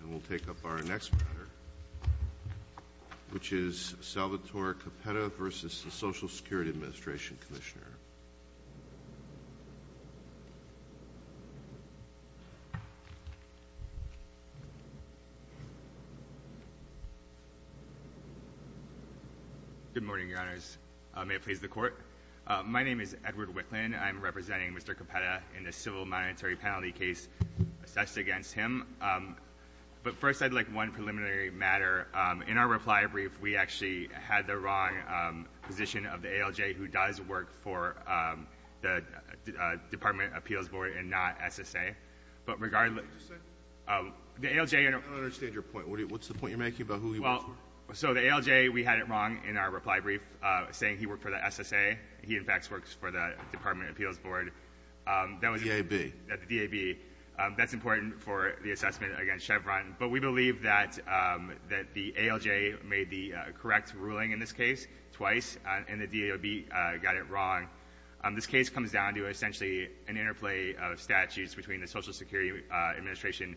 And we'll take up our next matter, which is Salvatore Cappetta v. Social Security Administration Commissioner. Good morning, Your Honors. May it please the Court? My name is Edward Wicklin. I'm representing Mr. Cappetta in the civil monetary penalty case assessed against him. But first, I'd like one preliminary matter. In our reply brief, we actually had the wrong position of the ALJ, who does work for the Department of Appeals Board and not SSA. But regardless... Just a second. The ALJ... I don't understand your point. What's the point you're making about who he works for? Well, so the ALJ, we had it wrong in our reply brief, saying he worked for the SSA. He, in fact, works for the Department of Appeals Board. The DAB. The DAB. That's important for the assessment against Chevron. But we believe that the ALJ made the correct ruling in this case twice, and the DAB got it wrong. This case comes down to essentially an interplay of statutes between the Social Security Administration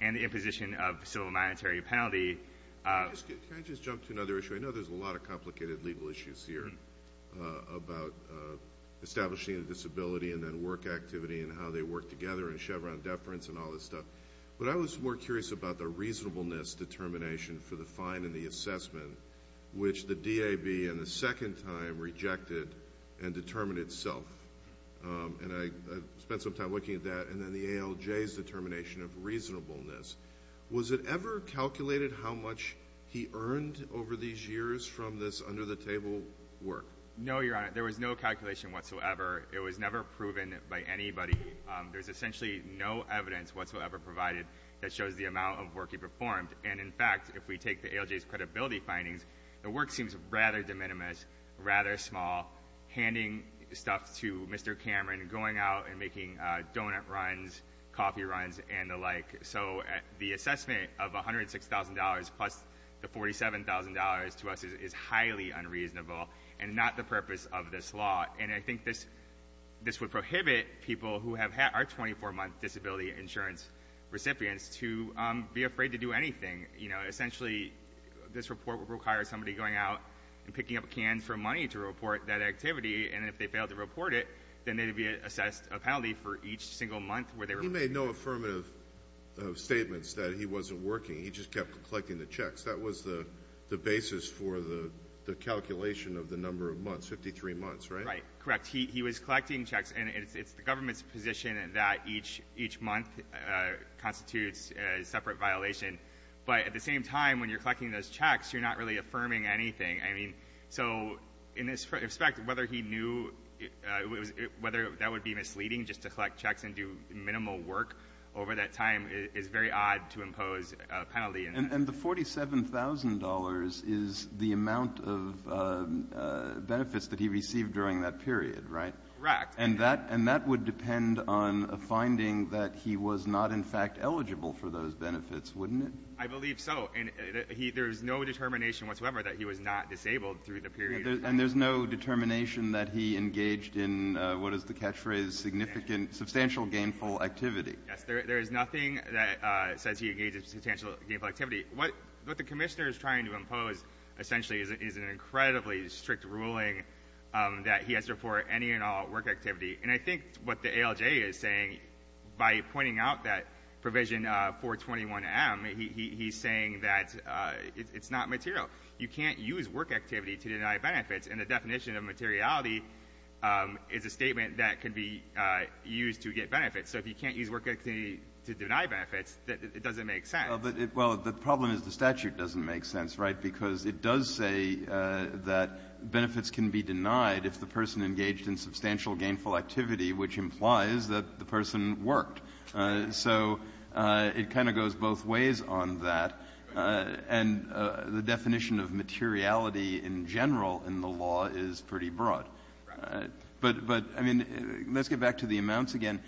and the imposition of civil monetary penalty. Can I just jump to another issue? I know there's a lot of complicated legal issues here about establishing a disability and then work activity and how they work together and Chevron deference and all this stuff. But I was more curious about the reasonableness determination for the fine and the assessment, which the DAB in the second time rejected and determined itself. And I spent some time looking at that. And then the ALJ's determination of reasonableness. Was it ever calculated how much he earned over these years from this under-the-table work? No, Your Honor. There was no calculation whatsoever. It was never proven by anybody. There's essentially no evidence whatsoever provided that shows the amount of work he performed. And, in fact, if we take the ALJ's credibility findings, the work seems rather de minimis, rather small. Handing stuff to Mr. Cameron, going out and making donut runs, coffee runs, and the like. So the assessment of $106,000 plus the $47,000 to us is highly unreasonable and not the purpose of this law. And I think this would prohibit people who have had our 24-month disability insurance recipients to be afraid to do anything. Essentially, this report would require somebody going out and picking up cans for money to report that activity. And if they failed to report it, then they would be assessed a penalty for each single month where they were working. The gentleman made no affirmative statements that he wasn't working. He just kept collecting the checks. That was the basis for the calculation of the number of months, 53 months, right? Right. Correct. He was collecting checks. And it's the government's position that each month constitutes a separate violation. But at the same time, when you're collecting those checks, you're not really affirming anything. So in this respect, whether he knew whether that would be misleading just to collect checks and do minimal work over that time is very odd to impose a penalty. And the $47,000 is the amount of benefits that he received during that period, right? Correct. And that would depend on a finding that he was not, in fact, eligible for those benefits, wouldn't it? I believe so. There's no determination whatsoever that he was not disabled through the period. And there's no determination that he engaged in, what is the catchphrase, substantial gainful activity. Yes. There is nothing that says he engaged in substantial gainful activity. What the commissioner is trying to impose, essentially, is an incredibly strict ruling that he has to report any and all work activity. And I think what the ALJ is saying, by pointing out that provision 421M, he's saying that it's not material. You can't use work activity to deny benefits. And the definition of materiality is a statement that can be used to get benefits. So if you can't use work activity to deny benefits, it doesn't make sense. Well, the problem is the statute doesn't make sense, right? Which implies that the person worked. So it kind of goes both ways on that. And the definition of materiality in general in the law is pretty broad. Right. But, I mean, let's get back to the amounts again.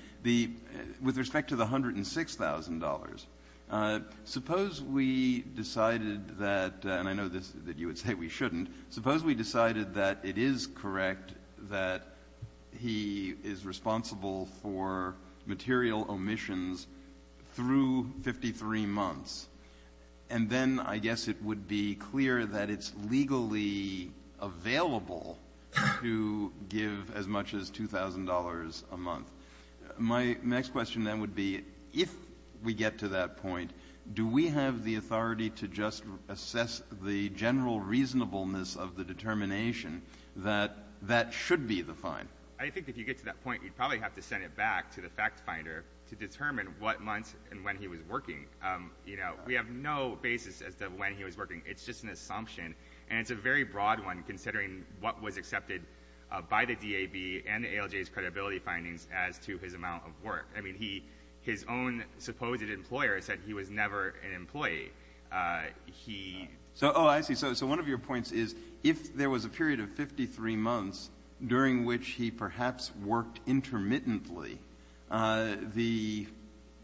With respect to the $106,000, suppose we decided that, and I know that you would say we shouldn't, suppose we decided that it is correct that he is responsible for material omissions through 53 months. And then I guess it would be clear that it's legally available to give as much as $2,000 a month. My next question then would be, if we get to that point, do we have the authority to just assess the general reasonableness of the determination that that should be the fine? I think if you get to that point, you'd probably have to send it back to the fact finder to determine what months and when he was working. You know, we have no basis as to when he was working. It's just an assumption. And it's a very broad one, considering what was accepted by the DAB and the ALJ's credibility findings as to his amount of work. I mean, his own supposed employer said he was never an employee. Oh, I see. So one of your points is, if there was a period of 53 months during which he perhaps worked intermittently, the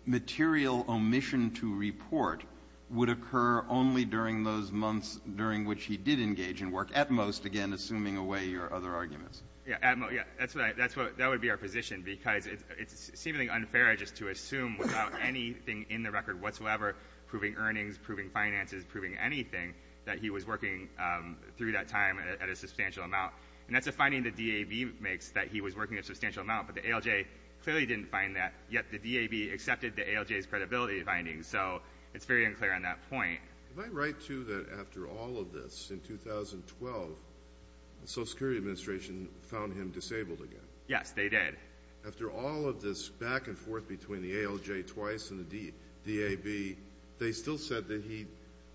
material omission to report would occur only during those months during which he did engage in work, at most, again, assuming away your other arguments. Yeah, at most. That would be our position, because it's seemingly unfair just to assume without anything in the record whatsoever, proving earnings, proving finances, proving anything, that he was working through that time at a substantial amount. And that's a finding the DAB makes, that he was working a substantial amount. But the ALJ clearly didn't find that, yet the DAB accepted the ALJ's credibility findings. So it's very unclear on that point. Am I right, too, that after all of this, in 2012, the Social Security Administration found him disabled again? Yes, they did. After all of this back and forth between the ALJ twice and the DAB, they still said that he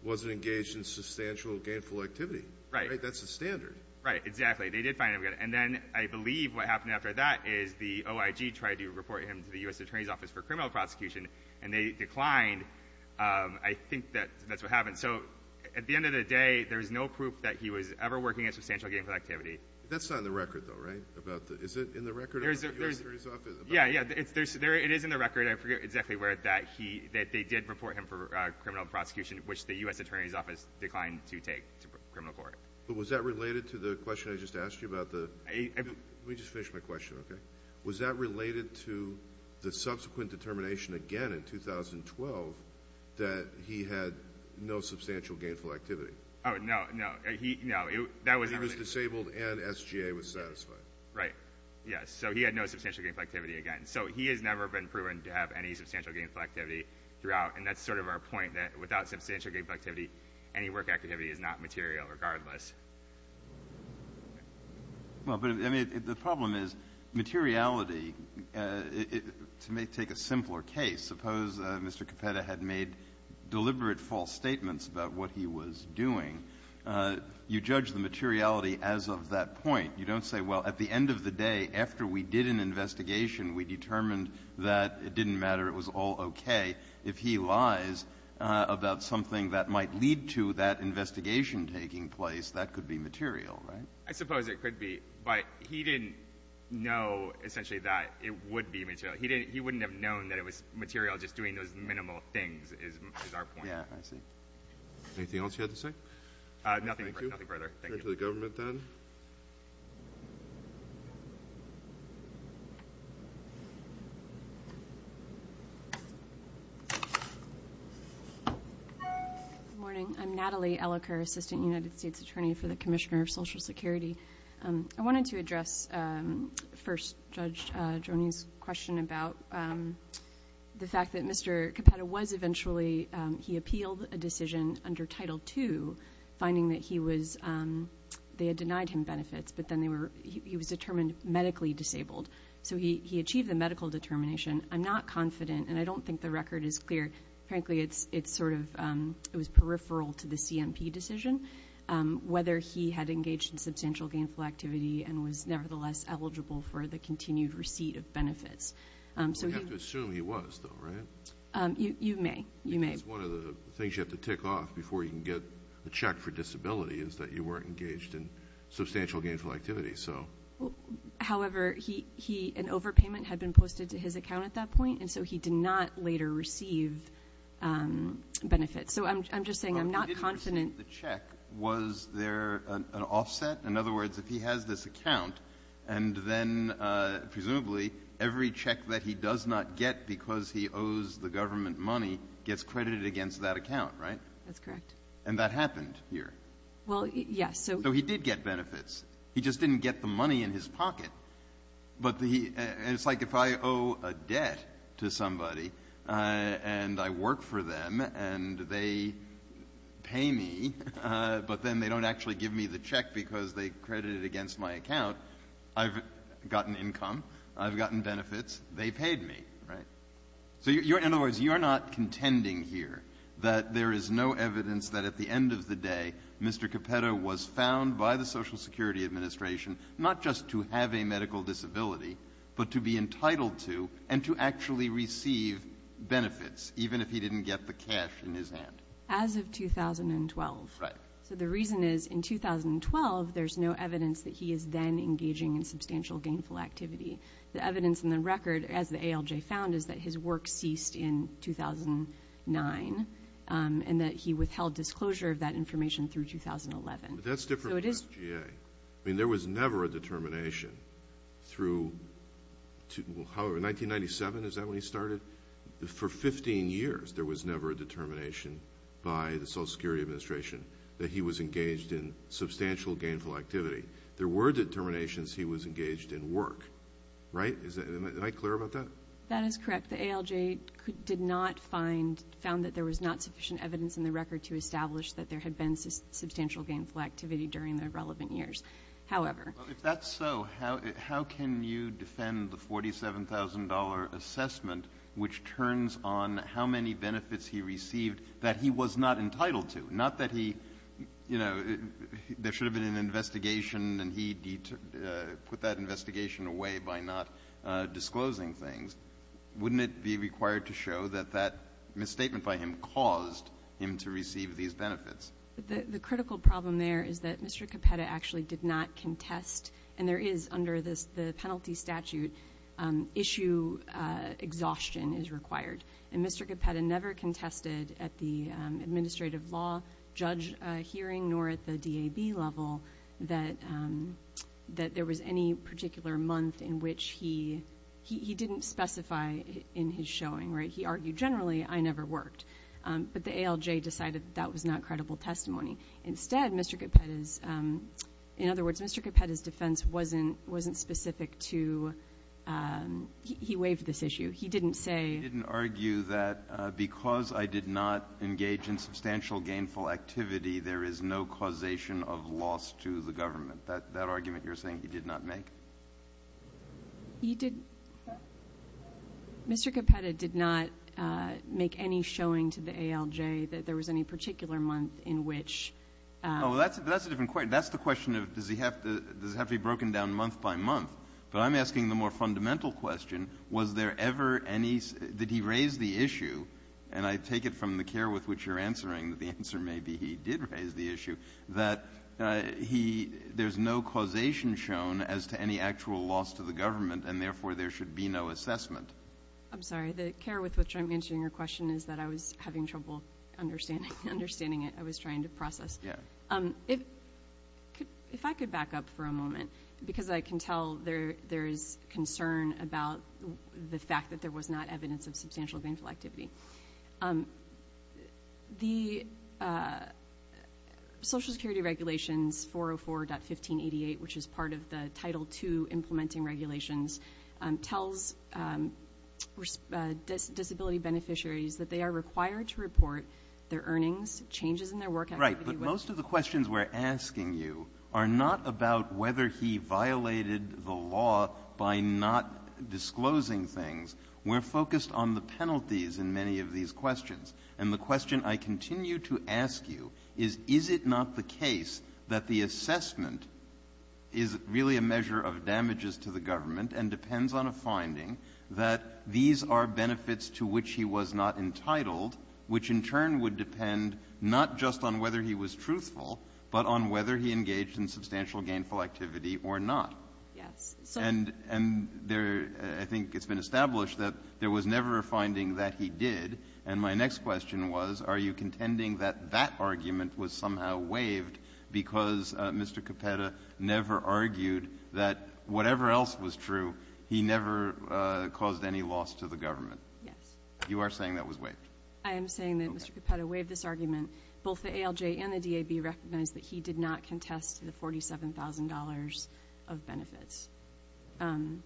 wasn't engaged in substantial gainful activity. Right. That's the standard. Right, exactly. And then I believe what happened after that is the OIG tried to report him to the U.S. Attorney's Office for criminal prosecution, and they declined. I think that's what happened. So at the end of the day, there's no proof that he was ever working at substantial gainful activity. That's not in the record, though, right? Is it in the record of the U.S. Attorney's Office? Yeah, yeah. It is in the record, I forget exactly where, that they did report him for criminal prosecution, which the U.S. Attorney's Office declined to take to criminal court. But was that related to the question I just asked you about the – let me just finish my question, okay? Was that related to the subsequent determination again in 2012 that he had no substantial gainful activity? Oh, no, no. He – no, that was not related. He was disabled and SGA was satisfied. Right, yes. So he had no substantial gainful activity again. So he has never been proven to have any substantial gainful activity throughout, and that's sort of our point, that without substantial gainful activity, any work activity is not material regardless. Well, but, I mean, the problem is materiality. To take a simpler case, suppose Mr. Capetta had made deliberate false statements about what he was doing. You judge the materiality as of that point. You don't say, well, at the end of the day, after we did an investigation, we determined that it didn't matter, it was all okay. If he lies about something that might lead to that investigation taking place, that could be material, right? I suppose it could be, but he didn't know essentially that it would be material. He didn't – he wouldn't have known that it was material just doing those minimal things is our point. Yeah, I see. Anything else you had to say? Thank you. Nothing further. Thank you. Thank you. Good morning. I'm Natalie Elliker, Assistant United States Attorney for the Commissioner of Social Security. I wanted to address first Judge Joni's question about the fact that Mr. Capetta was eventually – they had denied him benefits, but then they were – he was determined medically disabled. So he achieved the medical determination. I'm not confident, and I don't think the record is clear. Frankly, it's sort of – it was peripheral to the CMP decision, whether he had engaged in substantial gainful activity and was nevertheless eligible for the continued receipt of benefits. So we have to assume he was, though, right? You may. You may. I think it's one of the things you have to tick off before you can get the check for disability is that you weren't engaged in substantial gainful activity. However, he – an overpayment had been posted to his account at that point, and so he did not later receive benefits. So I'm just saying I'm not confident. He didn't receive the check. Was there an offset? In other words, if he has this account, and then presumably every check that he does not get because he owes the government money gets credited against that account, right? That's correct. And that happened here. Well, yes. So he did get benefits. He just didn't get the money in his pocket. But the – and it's like if I owe a debt to somebody and I work for them and they pay me, but then they don't actually give me the check because they credit it against my account, I've gotten income. I've gotten benefits. They paid me, right? So you're – in other words, you're not contending here that there is no evidence that at the end of the day Mr. Capetto was found by the Social Security Administration not just to have a medical disability, but to be entitled to and to actually receive benefits even if he didn't get the cash in his hand. As of 2012. Right. So the reason is in 2012 there's no evidence that he is then engaging in substantial gainful activity. The evidence in the record, as the ALJ found, is that his work ceased in 2009 and that he withheld disclosure of that information through 2011. But that's different from FGA. I mean, there was never a determination through – however, 1997, is that when he started? For 15 years there was never a determination by the Social Security Administration that he was engaged in substantial gainful activity. There were determinations he was engaged in work. Right? Am I clear about that? That is correct. The ALJ did not find – found that there was not sufficient evidence in the record to establish that there had been substantial gainful activity during the relevant years. However. Well, if that's so, how can you defend the $47,000 assessment, which turns on how many benefits he received that he was not entitled to? Not that he – you know, there should have been an investigation and he put that investigation away by not disclosing things. Wouldn't it be required to show that that misstatement by him caused him to receive these benefits? The critical problem there is that Mr. Capetta actually did not contest, and there is under the penalty statute, issue exhaustion is required. And Mr. Capetta never contested at the administrative law judge hearing nor at the DAB level that there was any particular month in which he – he didn't specify in his showing. Right? He argued generally, I never worked. But the ALJ decided that that was not credible testimony. Instead, Mr. Capetta's – in other words, Mr. Capetta's defense wasn't specific He didn't say – He didn't argue that because I did not engage in substantial gainful activity, there is no causation of loss to the government. That argument you're saying he did not make? He did – Mr. Capetta did not make any showing to the ALJ that there was any particular month in which – No, that's a different question. That's the question of does he have to – does it have to be broken down month by month. But I'm asking the more fundamental question. Was there ever any – did he raise the issue, and I take it from the care with which you're answering that the answer may be he did raise the issue, that he – there's no causation shown as to any actual loss to the government, and therefore there should be no assessment. I'm sorry. The care with which I'm answering your question is that I was having trouble understanding it. I was trying to process. Yeah. If I could back up for a moment because I can tell there is concern about the fact that there was not evidence of substantial gainful activity. The Social Security Regulations 404.1588, which is part of the Title II implementing regulations, tells disability beneficiaries that they are required to report their earnings, changes in their work activity – Right. But most of the questions we're asking you are not about whether he violated the law by not disclosing things. We're focused on the penalties in many of these questions. And the question I continue to ask you is, is it not the case that the assessment is really a measure of damages to the government and depends on a finding that these are benefits to which he was not entitled, which in turn would depend not just on whether he was truthful, but on whether he engaged in substantial gainful activity or not? Yes. And there – I think it's been established that there was never a finding that he did. And my next question was, are you contending that that argument was somehow waived because Mr. Capetta never argued that whatever else was true, he never caused any loss to the government? Yes. You are saying that was waived? I am saying that Mr. Capetta waived this argument. Both the ALJ and the DAB recognize that he did not contest the $47,000 of benefits. And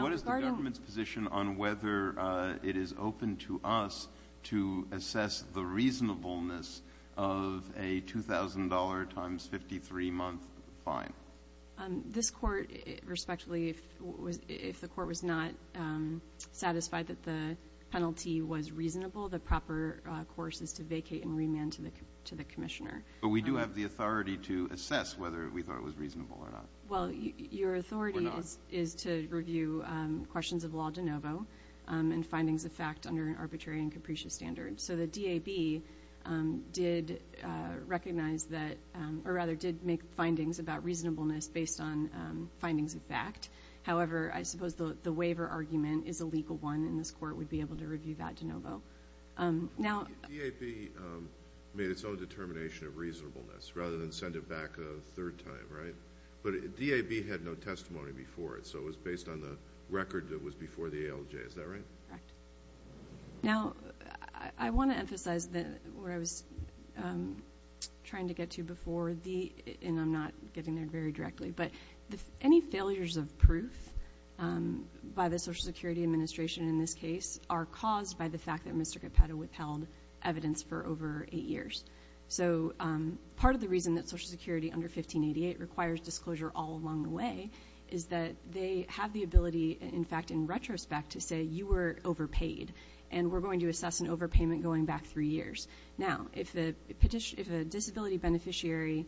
what is the government's position on whether it is open to us to assess the reasonableness of a $2,000 times 53-month fine? This court, respectively, if the court was not satisfied that the penalty was reasonable, the proper course is to vacate and remand to the commissioner. But we do have the authority to assess whether we thought it was reasonable or not. Well, your authority is to review questions of law de novo and findings of fact under an arbitrary and capricious standard. So the DAB did make findings about reasonableness based on findings of fact. However, I suppose the waiver argument is a legal one, and this court would be able to review that de novo. The DAB made its own determination of reasonableness rather than send it back a third time, right? But the DAB had no testimony before it, so it was based on the record that was before the ALJ. Is that right? Correct. Now, I want to emphasize where I was trying to get to before, and I'm not getting there very directly, but any failures of proof by the Social Security Administration in this case are caused by the fact that Mr. Capetto withheld evidence for over eight years. So part of the reason that Social Security under 1588 requires disclosure all along the way is that they have the ability, in fact, in retrospect to say you were overpaid, and we're going to assess an overpayment going back three years. Now, if a disability beneficiary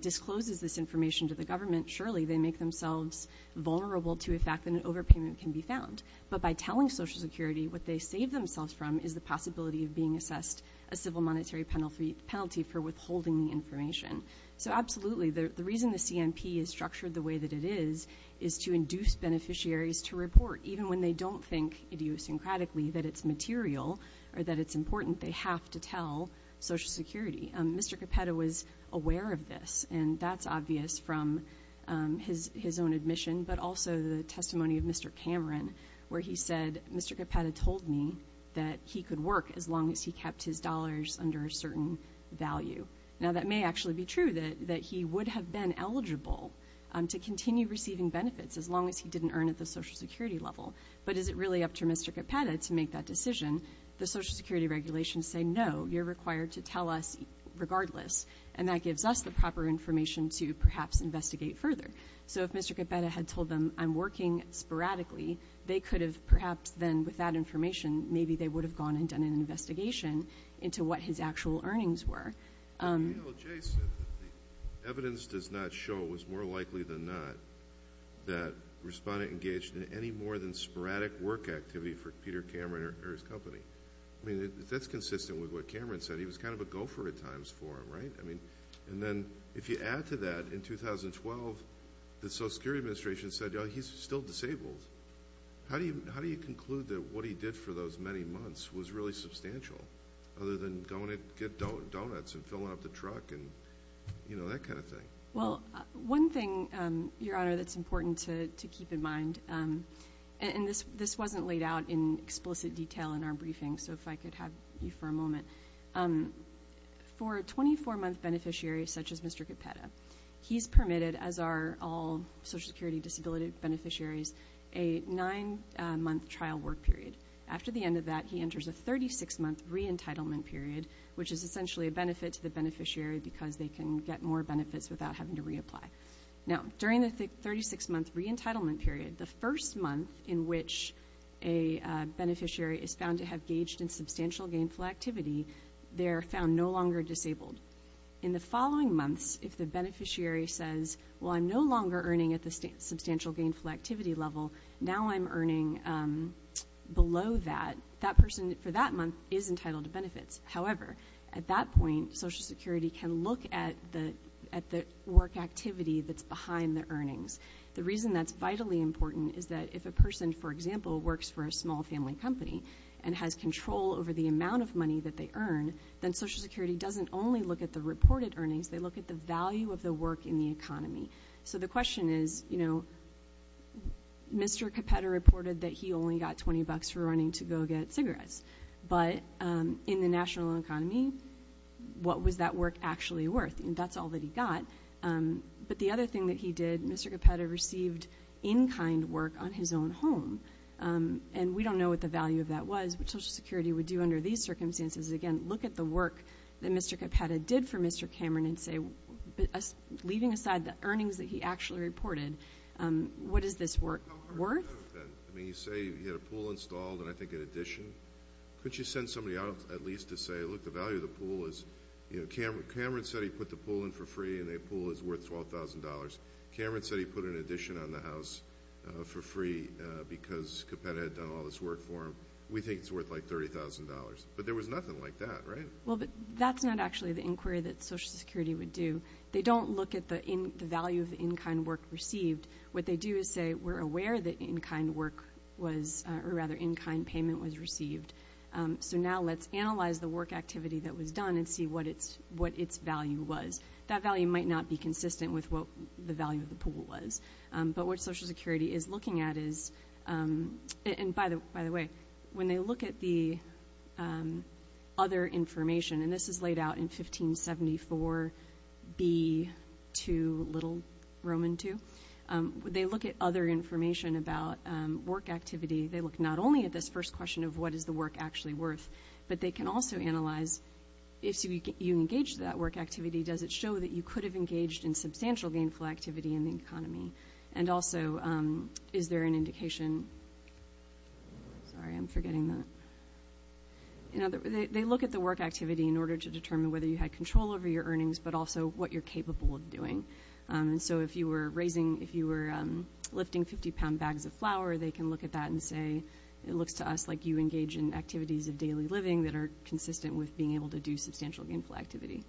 discloses this information to the government, surely they make themselves vulnerable to the fact that an overpayment can be found. But by telling Social Security what they saved themselves from is the possibility of being assessed a civil monetary penalty for withholding the information. So absolutely, the reason the CMP is structured the way that it is is to induce beneficiaries to report. Even when they don't think idiosyncratically that it's material or that it's important, they have to tell Social Security. Mr. Capetto was aware of this, and that's obvious from his own admission, but also the testimony of Mr. Cameron where he said, Mr. Capetto told me that he could work as long as he kept his dollars under a certain value. Now, that may actually be true, that he would have been eligible to continue receiving benefits as long as he didn't earn at the Social Security level. But is it really up to Mr. Capetto to make that decision? The Social Security regulations say, no, you're required to tell us regardless, and that gives us the proper information to perhaps investigate further. So if Mr. Capetto had told them I'm working sporadically, they could have perhaps then, with that information, maybe they would have gone and done an investigation into what his actual earnings were. You know, Jay said that the evidence does not show, it was more likely than not, that a respondent engaged in any more than sporadic work activity for Peter Cameron or his company. I mean, that's consistent with what Cameron said. He was kind of a gopher at times for him, right? I mean, and then if you add to that, in 2012, the Social Security Administration said, you know, he's still disabled. How do you conclude that what he did for those many months was really substantial, other than going to get donuts and filling up the truck and, you know, that kind of thing? Well, one thing, Your Honor, that's important to keep in mind, and this wasn't laid out in explicit detail in our briefing, so if I could have you for a moment. For a 24-month beneficiary such as Mr. Capetto, he's permitted, as are all Social Security disability beneficiaries, a nine-month trial work period. After the end of that, he enters a 36-month re-entitlement period, which is essentially a benefit to the beneficiary because they can get more benefits without having to reapply. Now, during the 36-month re-entitlement period, the first month in which a beneficiary is found to have gauged in substantial gainful activity, they are found no longer disabled. In the following months, if the beneficiary says, well, I'm no longer earning at the substantial gainful activity level, now I'm earning below that, that person for that month is entitled to benefits. However, at that point, Social Security can look at the work activity that's behind the earnings. The reason that's vitally important is that if a person, for example, works for a small family company and has control over the amount of money that they earn, then Social Security doesn't only look at the reported earnings, they look at the value of the work in the economy. So the question is, you know, Mr. Capetta reported that he only got $20 for running to go get cigarettes, but in the national economy, what was that work actually worth? That's all that he got. But the other thing that he did, Mr. Capetta received in-kind work on his own home, and we don't know what the value of that was. What Social Security would do under these circumstances is, again, look at the work that Mr. Capetta did for Mr. Cameron and say, leaving aside the earnings that he actually reported, what is this work worth? I mean, you say he had a pool installed and I think an addition. Couldn't you send somebody out at least to say, look, the value of the pool is, you know, Cameron said he put the pool in for free and a pool is worth $12,000. Cameron said he put an addition on the house for free because Capetta had done all this work for him. We think it's worth like $30,000. But there was nothing like that, right? Well, that's not actually the inquiry that Social Security would do. They don't look at the value of the in-kind work received. What they do is say we're aware that in-kind work was or rather in-kind payment was received, so now let's analyze the work activity that was done and see what its value was. That value might not be consistent with what the value of the pool was. But what Social Security is looking at is, and by the way, when they look at the other information, and this is laid out in 1574b2, little Roman two, they look at other information about work activity. They look not only at this first question of what is the work actually worth, but they can also analyze if you engage that work activity, does it show that you could have engaged in substantial gainful activity in the economy? And also, is there an indication? Sorry, I'm forgetting that. They look at the work activity in order to determine whether you had control over your earnings, but also what you're capable of doing. So if you were raising, if you were lifting 50-pound bags of flour, they can look at that and say it looks to us like you engage in activities of daily living that are consistent with being able to do substantial gainful activity.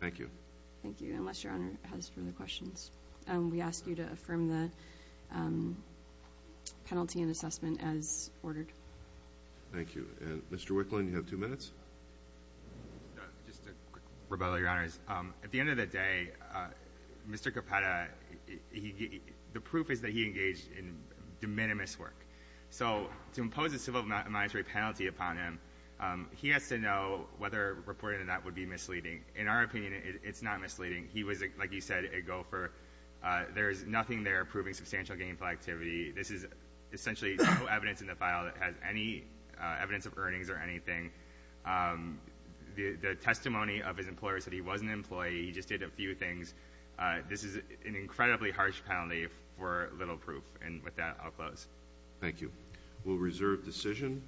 Thank you. Thank you, unless Your Honor has further questions. We ask you to affirm the penalty and assessment as ordered. Thank you. And Mr. Wicklund, you have two minutes. Just a quick rebuttal, Your Honors. At the end of the day, Mr. Capetta, the proof is that he engaged in de minimis work. So to impose a civil monetary penalty upon him, he has to know whether reporting that would be misleading. In our opinion, it's not misleading. He was, like you said, a gopher. There is nothing there proving substantial gainful activity. This is essentially no evidence in the file that has any evidence of earnings or anything. The testimony of his employer said he was an employee, he just did a few things. This is an incredibly harsh penalty for little proof. And with that, I'll close. Thank you. We'll reserve decision.